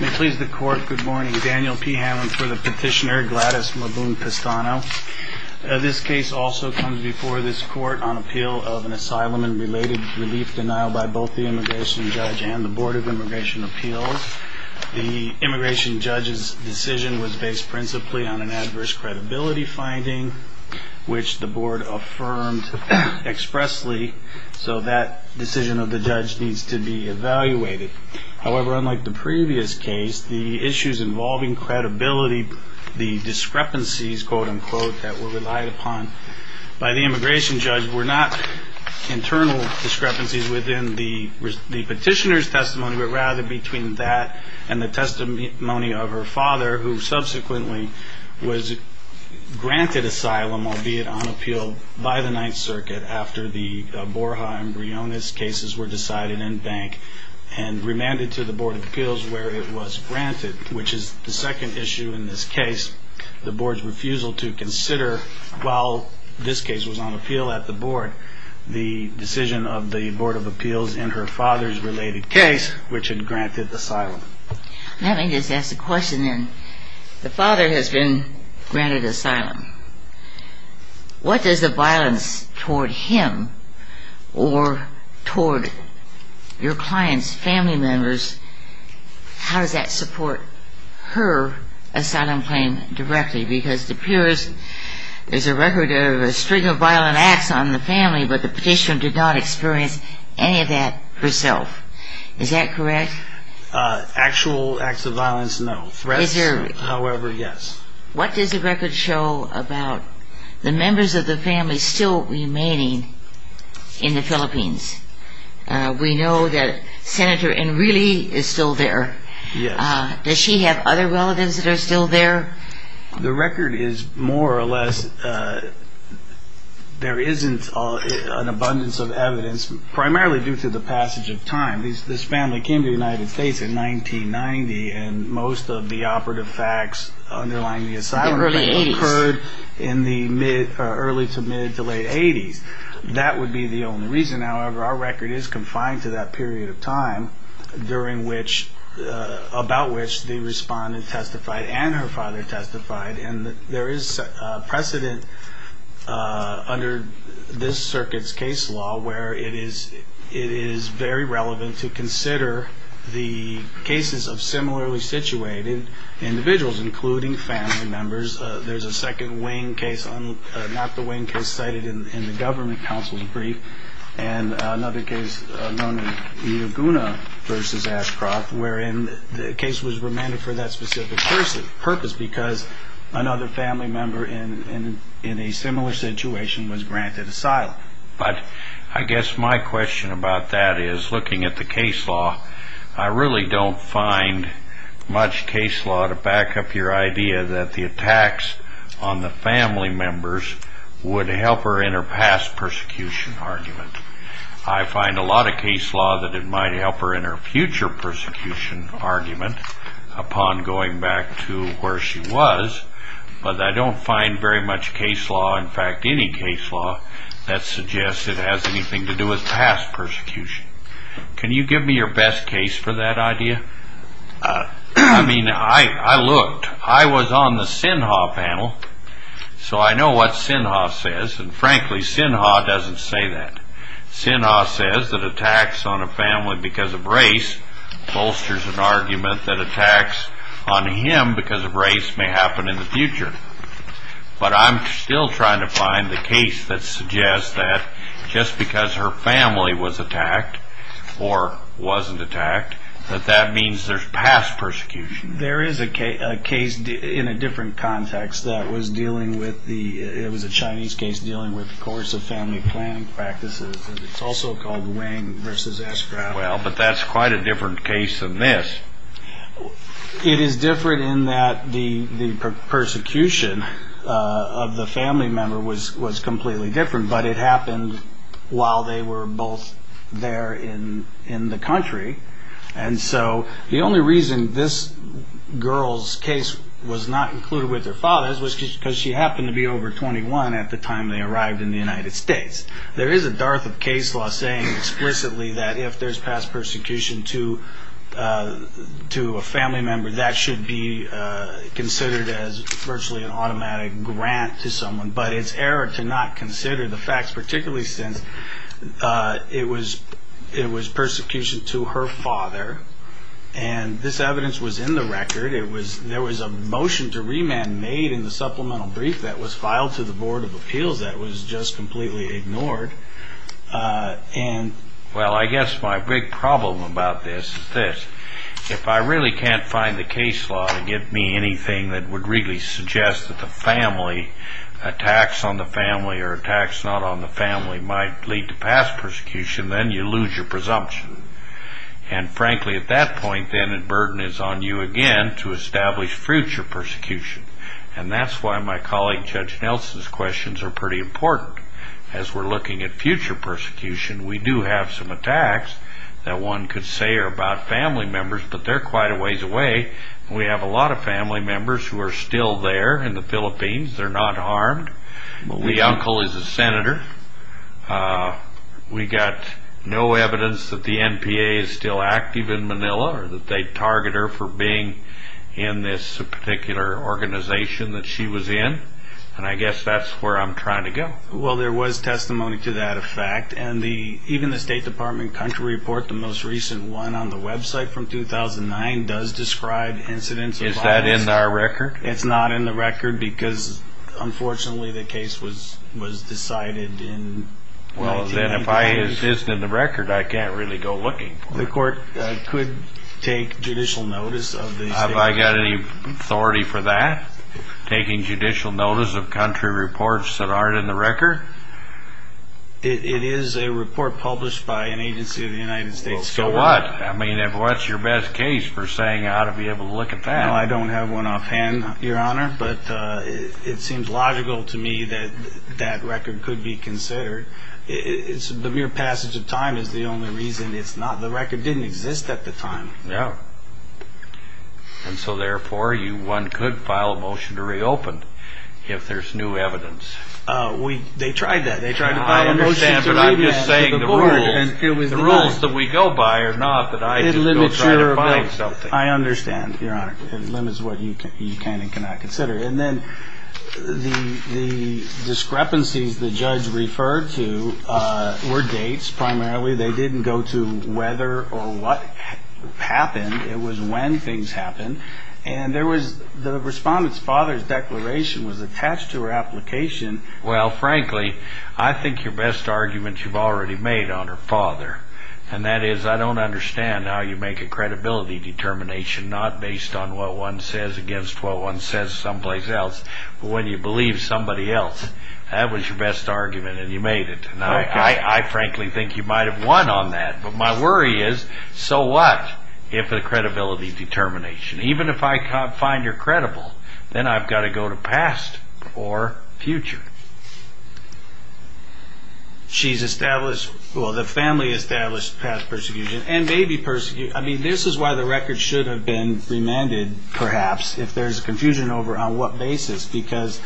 May it please the court, good morning. Daniel P. Hammond for the petitioner, Gladys Mabun-Pestano. This case also comes before this court on appeal of an asylum and related relief denial by both the immigration judge and the Board of Immigration Appeals. The immigration judge's decision was based principally on an adverse credibility finding, which the board affirmed expressly, so that decision of the judge needs to be evaluated. However, unlike the previous case, the issues involving credibility, the discrepancies that were relied upon by the immigration judge were not internal discrepancies within the petitioner's testimony, but rather between that and the testimony of her father, who subsequently was granted asylum, albeit on appeal by the Ninth Circuit after the Borja and Briones cases were decided in Bank, and remanded to the Board of Appeals where it was granted, which is the second issue in this case, the board's refusal to consider, while this case was on appeal at the board, the decision of the Board of Appeals in her father's related case, which had granted asylum. Let me just ask a question then. The father has been granted asylum. What does the violence toward him or toward your client's family members, how does that support her asylum claim directly? Because it appears there's a record of a string of violent acts on the family, but the petitioner did not experience any of that herself. Is that correct? Actual acts of violence, no. Threats, however, yes. What does the record show about the members of the family still remaining in the Philippines? We know that Senator Enrile is still there. Yes. Does she have other relatives that are still there? The record is more or less, there isn't an abundance of evidence, primarily due to the passage of time. This family came to the United States in 1990, and most of the operative facts underlying the asylum claim occurred in the early to mid to late 80s. That would be the only reason, however, our record is confined to that period of time, about which the respondent testified and her father testified. And there is precedent under this circuit's case law where it is very relevant to consider the cases of similarly situated individuals, including family members. There's a second wing case, not the wing case cited in the government counsel's brief, and another case known as Iaguna v. Ashcroft, wherein the case was remanded for that specific purpose because another family member in a similar situation was granted asylum. But I guess my question about that is, looking at the case law, I really don't find much case law to back up your idea that the attacks on the family members would help her in her past persecution argument. I find a lot of case law that it might help her in her future persecution argument upon going back to where she was, but I don't find very much case law, in fact any case law, that suggests it has anything to do with past persecution. Can you give me your best case for that idea? I mean, I looked. I was on the Sinha panel, so I know what Sinha says, and frankly, Sinha doesn't say that. Sinha says that attacks on a family because of race bolsters an argument that attacks on him because of race may happen in the future. But I'm still trying to find the case that suggests that just because her family was attacked or wasn't attacked, that that means there's past persecution. There is a case in a different context that was dealing with the, it was a Chinese case dealing with coercive family planning practices. It's also called Wang v. Ashcroft. Well, but that's quite a different case than this. It is different in that the persecution of the family member was completely different, but it happened while they were both there in the country. And so the only reason this girl's case was not included with her father's was because she happened to be over 21 at the time they arrived in the United States. There is a dearth of case law saying explicitly that if there's past persecution to a family member, that should be considered as virtually an automatic grant to someone. But it's error to not consider the facts, particularly since it was persecution to her father, and this evidence was in the record. There was a motion to remand made in the supplemental brief that was filed to the Board of Appeals that was just completely ignored. Well, I guess my big problem about this is this. If I really can't find the case law to give me anything that would really suggest that the family, attacks on the family or attacks not on the family might lead to past persecution, then you lose your presumption. And frankly, at that point, then, the burden is on you again to establish future persecution. And that's why my colleague Judge Nelson's questions are pretty important. As we're looking at future persecution, we do have some attacks that one could say are about family members, but they're quite a ways away. We have a lot of family members who are still there in the Philippines. They're not harmed. The uncle is a senator. We got no evidence that the NPA is still active in Manila or that they target her for being in this particular organization that she was in. And I guess that's where I'm trying to go. Well, there was testimony to that effect. And even the State Department country report, the most recent one on the website from 2009, does describe incidents. Is that in our record? It's not in the record because, unfortunately, the case was decided in 1998. Well, then, if it isn't in the record, I can't really go looking for it. The court could take judicial notice of the State Department. Have I got any authority for that, taking judicial notice of country reports that aren't in the record? It is a report published by an agency of the United States. So what? I mean, if what's your best case for saying I ought to be able to look at that? Well, I don't have one offhand, Your Honor, but it seems logical to me that that record could be considered. The mere passage of time is the only reason it's not. The record didn't exist at the time. No. And so, therefore, one could file a motion to reopen if there's new evidence. They tried that. They tried to buy a motion to reopen. I understand, but I'm just saying the rules that we go by are not that I should go try to buy something. I understand, Your Honor. It limits what you can and cannot consider. And then the discrepancies the judge referred to were dates, primarily. They didn't go to whether or what happened. It was when things happened. And there was the respondent's father's declaration was attached to her application. Well, frankly, I think your best argument you've already made on her father, and that is I don't understand how you make a credibility determination not based on what one says against what one says someplace else, but when you believe somebody else. That was your best argument, and you made it. I frankly think you might have won on that, but my worry is so what if a credibility determination? Even if I can't find you're credible, then I've got to go to past or future. She's established. Well, the family established past persecution and may be persecuted. I mean, this is why the record should have been remanded, perhaps, if there's confusion over on what basis, because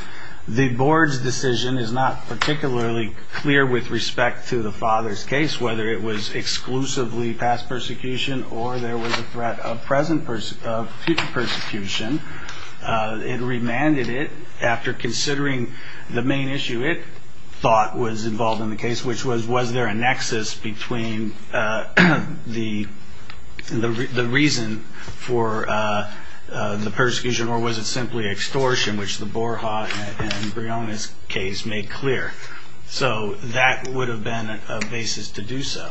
the board's decision is not particularly clear with respect to the father's case, whether it was exclusively past persecution or there was a threat of present or future persecution. It remanded it after considering the main issue it thought was involved in the case, which was was there a nexus between the reason for the persecution or was it simply extortion, which the Borja and Brianna's case made clear. So that would have been a basis to do so.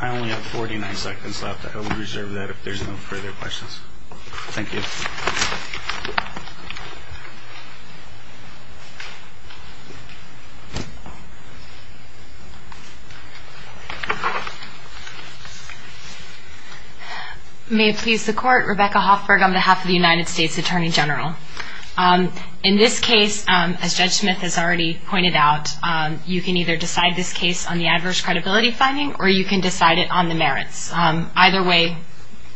I only have 49 seconds left. I will reserve that if there's no further questions. Thank you. May it please the court. Rebecca Hoffberg on behalf of the United States Attorney General. In this case, as Judge Smith has already pointed out, you can either decide this case on the adverse credibility finding or you can decide it on the merits. Either way,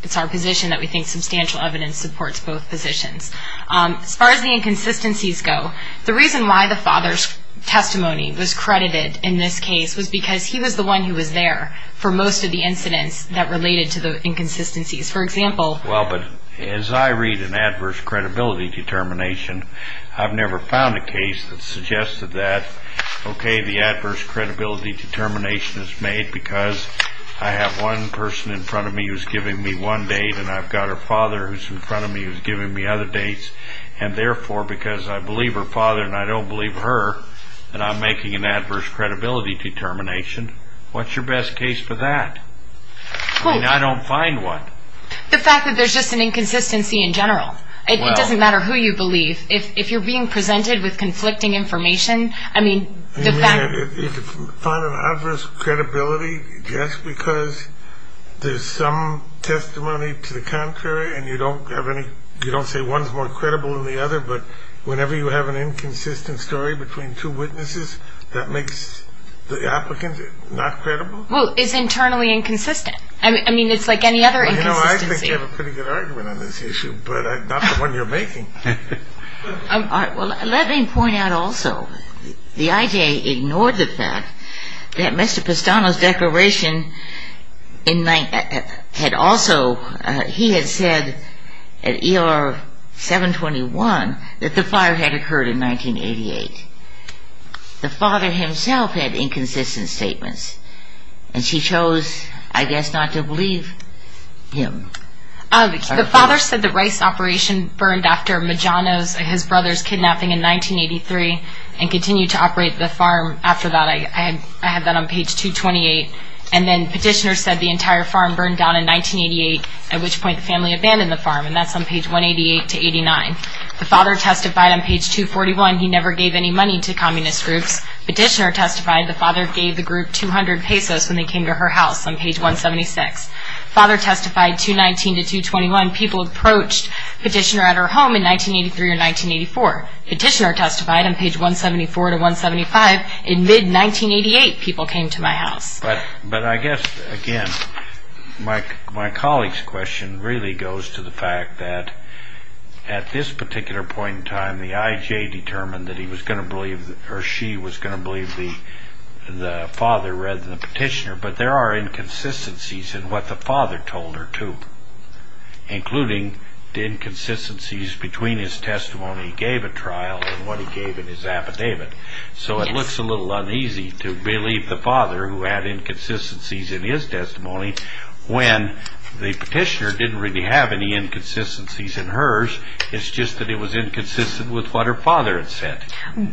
it's our position that we think substantial evidence supports both positions. As far as the inconsistencies go, the reason why the father's testimony was credited in this case was because he was the one who was there for most of the incidents that related to the inconsistencies. Well, but as I read an adverse credibility determination, I've never found a case that suggested that, okay, the adverse credibility determination is made because I have one person in front of me who's giving me one date and I've got her father who's in front of me who's giving me other dates, and therefore because I believe her father and I don't believe her that I'm making an adverse credibility determination. What's your best case for that? I mean, I don't find one. The fact that there's just an inconsistency in general. It doesn't matter who you believe. If you're being presented with conflicting information, I mean, the fact... You mean if you find an adverse credibility just because there's some testimony to the contrary and you don't have any, you don't say one's more credible than the other, but whenever you have an inconsistent story between two witnesses, that makes the applicant not credible? Well, it's internally inconsistent. I mean, it's like any other inconsistency. Well, you know, I think you have a pretty good argument on this issue, but not the one you're making. Well, let me point out also the IJ ignored the fact that Mr. Pestano's declaration had also, he had said at ER 721 that the fire had occurred in 1988. The father himself had inconsistent statements, and she chose, I guess, not to believe him. The father said the rice operation burned after Majano's, his brother's kidnapping in 1983 and continued to operate the farm after that. I had that on page 228. And then petitioner said the entire farm burned down in 1988, at which point the family abandoned the farm, and that's on page 188 to 89. The father testified on page 241 he never gave any money to communist groups. Petitioner testified the father gave the group 200 pesos when they came to her house on page 176. Father testified 219 to 221 people approached petitioner at her home in 1983 or 1984. Petitioner testified on page 174 to 175 in mid-1988 people came to my house. But I guess, again, my colleague's question really goes to the fact that at this particular point in time the IJ determined that he was going to believe or she was going to believe the father rather than the petitioner, but there are inconsistencies in what the father told her too, including the inconsistencies between his testimony he gave at trial and what he gave in his affidavit. So it looks a little uneasy to believe the father who had inconsistencies in his testimony when the petitioner didn't really have any inconsistencies in hers, it's just that it was inconsistent with what her father had said.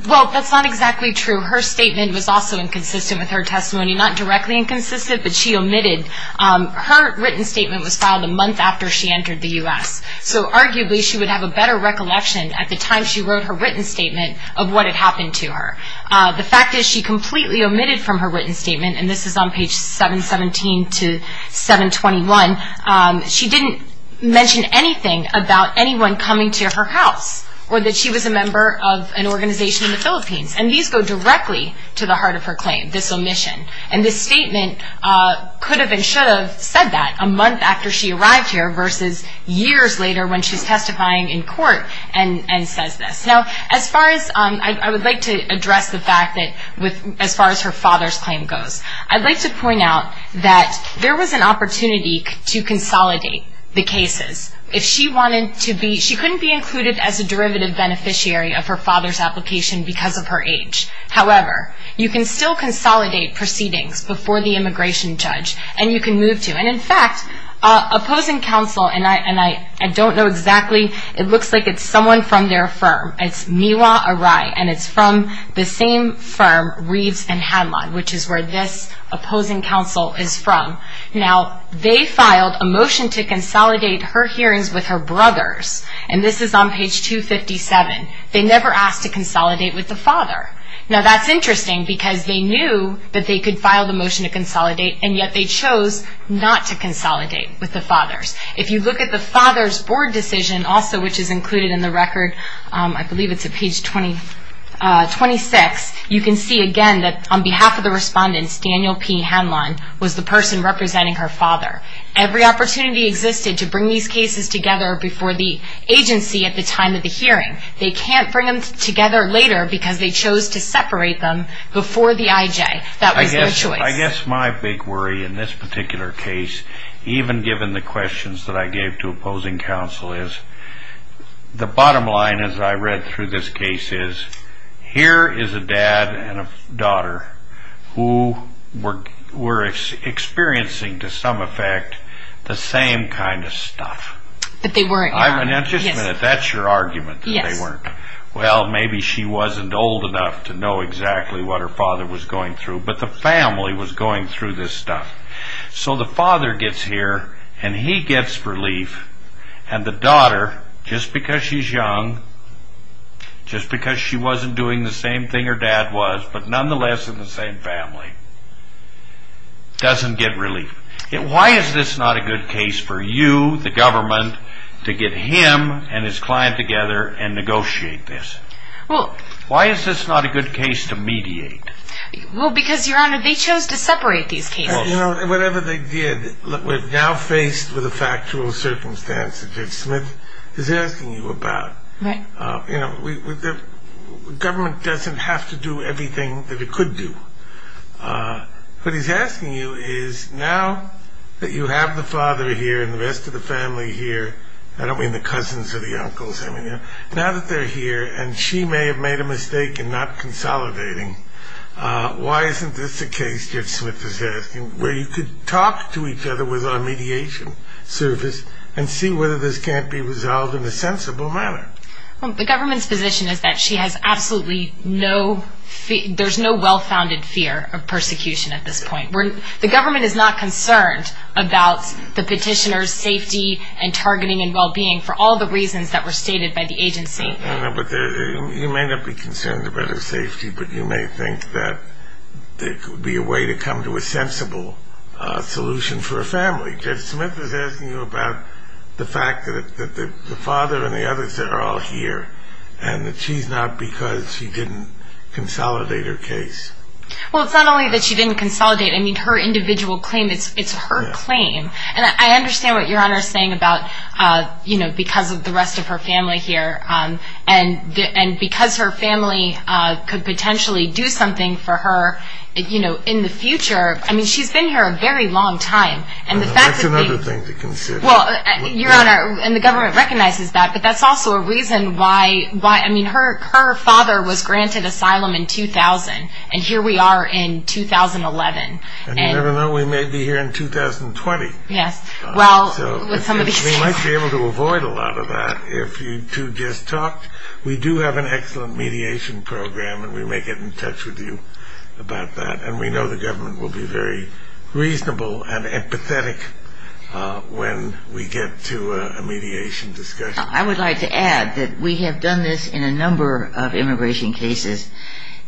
Well, that's not exactly true. Her statement was also inconsistent with her testimony, not directly inconsistent, but she omitted. Her written statement was filed a month after she entered the U.S., so arguably she would have a better recollection at the time she wrote her written statement of what had happened to her. The fact is she completely omitted from her written statement, and this is on page 717 to 721, she didn't mention anything about anyone coming to her house or that she was a member of an organization in the Philippines, and these go directly to the heart of her claim, this omission. And this statement could have and should have said that a month after she arrived here versus years later when she's testifying in court and says this. Now, I would like to address the fact that as far as her father's claim goes, I'd like to point out that there was an opportunity to consolidate the cases. She couldn't be included as a derivative beneficiary of her father's application because of her age. However, you can still consolidate proceedings before the immigration judge, and you can move to. And in fact, opposing counsel, and I don't know exactly, it looks like it's someone from their firm, it's Miwa Arai, and it's from the same firm, Reeves and Hadlon, which is where this opposing counsel is from. Now, they filed a motion to consolidate her hearings with her brothers, and this is on page 257. They never asked to consolidate with the father. Now, that's interesting because they knew that they could file the motion to consolidate, and yet they chose not to consolidate with the fathers. If you look at the father's board decision also, which is included in the record, I believe it's at page 26, you can see again that on behalf of the respondents, Daniel P. Hadlon was the person representing her father. Every opportunity existed to bring these cases together before the agency at the time of the hearing. They can't bring them together later because they chose to separate them before the IJ. That was their choice. I guess my big worry in this particular case, even given the questions that I gave to opposing counsel, is the bottom line, as I read through this case, is here is a dad and a daughter who were experiencing, to some effect, the same kind of stuff. But they weren't young. Now, just a minute, that's your argument, that they weren't. Well, maybe she wasn't old enough to know exactly what her father was going through, but the family was going through this stuff. So the father gets here, and he gets relief, and the daughter, just because she's young, just because she wasn't doing the same thing her dad was, but nonetheless in the same family, doesn't get relief. Why is this not a good case for you, the government, to get him and his client together and negotiate this? Why is this not a good case to mediate? Well, because, Your Honor, they chose to separate these cases. Whatever they did, we're now faced with a factual circumstance that Judge Smith is asking you about. The government doesn't have to do everything that it could do. What he's asking you is, now that you have the father here and the rest of the family here, I don't mean the cousins or the uncles, now that they're here, and she may have made a mistake in not consolidating, why isn't this a case, Judge Smith is asking, where you could talk to each other with our mediation service and see whether this can't be resolved in a sensible manner? The government's position is that she has absolutely no, there's no well-founded fear of persecution at this point. The government is not concerned about the petitioner's safety and targeting and well-being for all the reasons that were stated by the agency. I know, but you may not be concerned about her safety, but you may think that there could be a way to come to a sensible solution for her family. Judge Smith is asking you about the fact that the father and the others are all here and that she's not because she didn't consolidate her case. Well, it's not only that she didn't consolidate. I mean, her individual claim, it's her claim. And I understand what Your Honor is saying about, you know, because of the rest of her family here and because her family could potentially do something for her, you know, in the future. I mean, she's been here a very long time. That's another thing to consider. Well, Your Honor, and the government recognizes that, but that's also a reason why, I mean, her father was granted asylum in 2000, and here we are in 2011. And you never know, we may be here in 2020. Yes. So we might be able to avoid a lot of that if you two just talked. We do have an excellent mediation program, and we may get in touch with you about that. And we know the government will be very reasonable and empathetic when we get to a mediation discussion. I would like to add that we have done this in a number of immigration cases.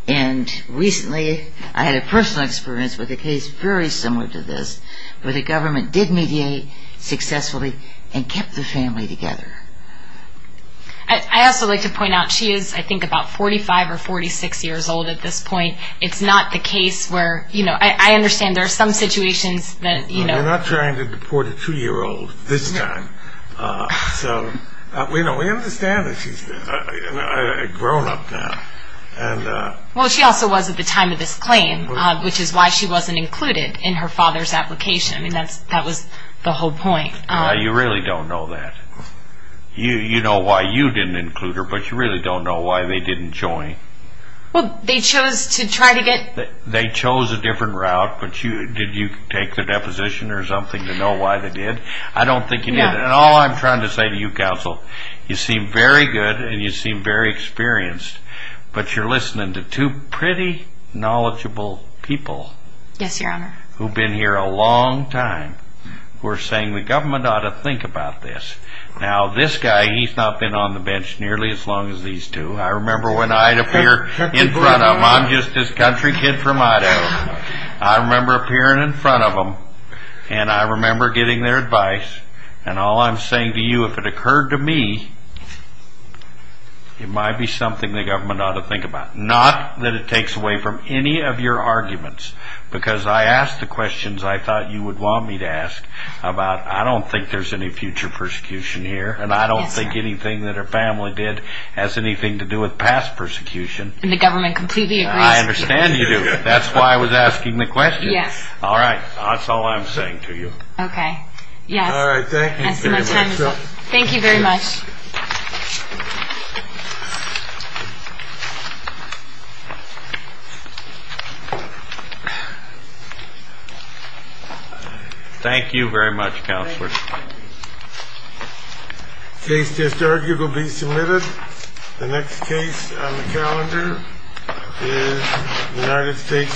And recently I had a personal experience with a case very similar to this, where the government did mediate successfully and kept the family together. I also like to point out she is, I think, about 45 or 46 years old at this point. It's not the case where, you know, I understand there are some situations that, you know. We're not trying to deport a 2-year-old this time. So, you know, we understand that she's a grown-up now. Well, she also was at the time of this claim, which is why she wasn't included in her father's application. I mean, that was the whole point. You really don't know that. You know why you didn't include her, but you really don't know why they didn't join. Well, they chose to try to get... They chose a different route, but did you take the deposition or something to know why they did? I don't think you did. And all I'm trying to say to you, Counsel, you seem very good and you seem very experienced, but you're listening to two pretty knowledgeable people... Yes, Your Honor. ...who've been here a long time, who are saying the government ought to think about this. Now, this guy, he's not been on the bench nearly as long as these two. I remember when I'd appear in front of them. I'm just this country kid from Idaho. I remember appearing in front of them, and I remember getting their advice, and all I'm saying to you, if it occurred to me, it might be something the government ought to think about. Not that it takes away from any of your arguments, because I asked the questions I thought you would want me to ask about, I don't think there's any future persecution here, and I don't think anything that her family did has anything to do with past persecution. And the government completely agrees with you. I understand you do. That's why I was asking the questions. Yes. All right. That's all I'm saying to you. Okay. Yes. All right. Thank you very much. Thank you very much. Thank you very much, Counselor. The case to start will be submitted. The next case on the calendar is United States v. Guzman.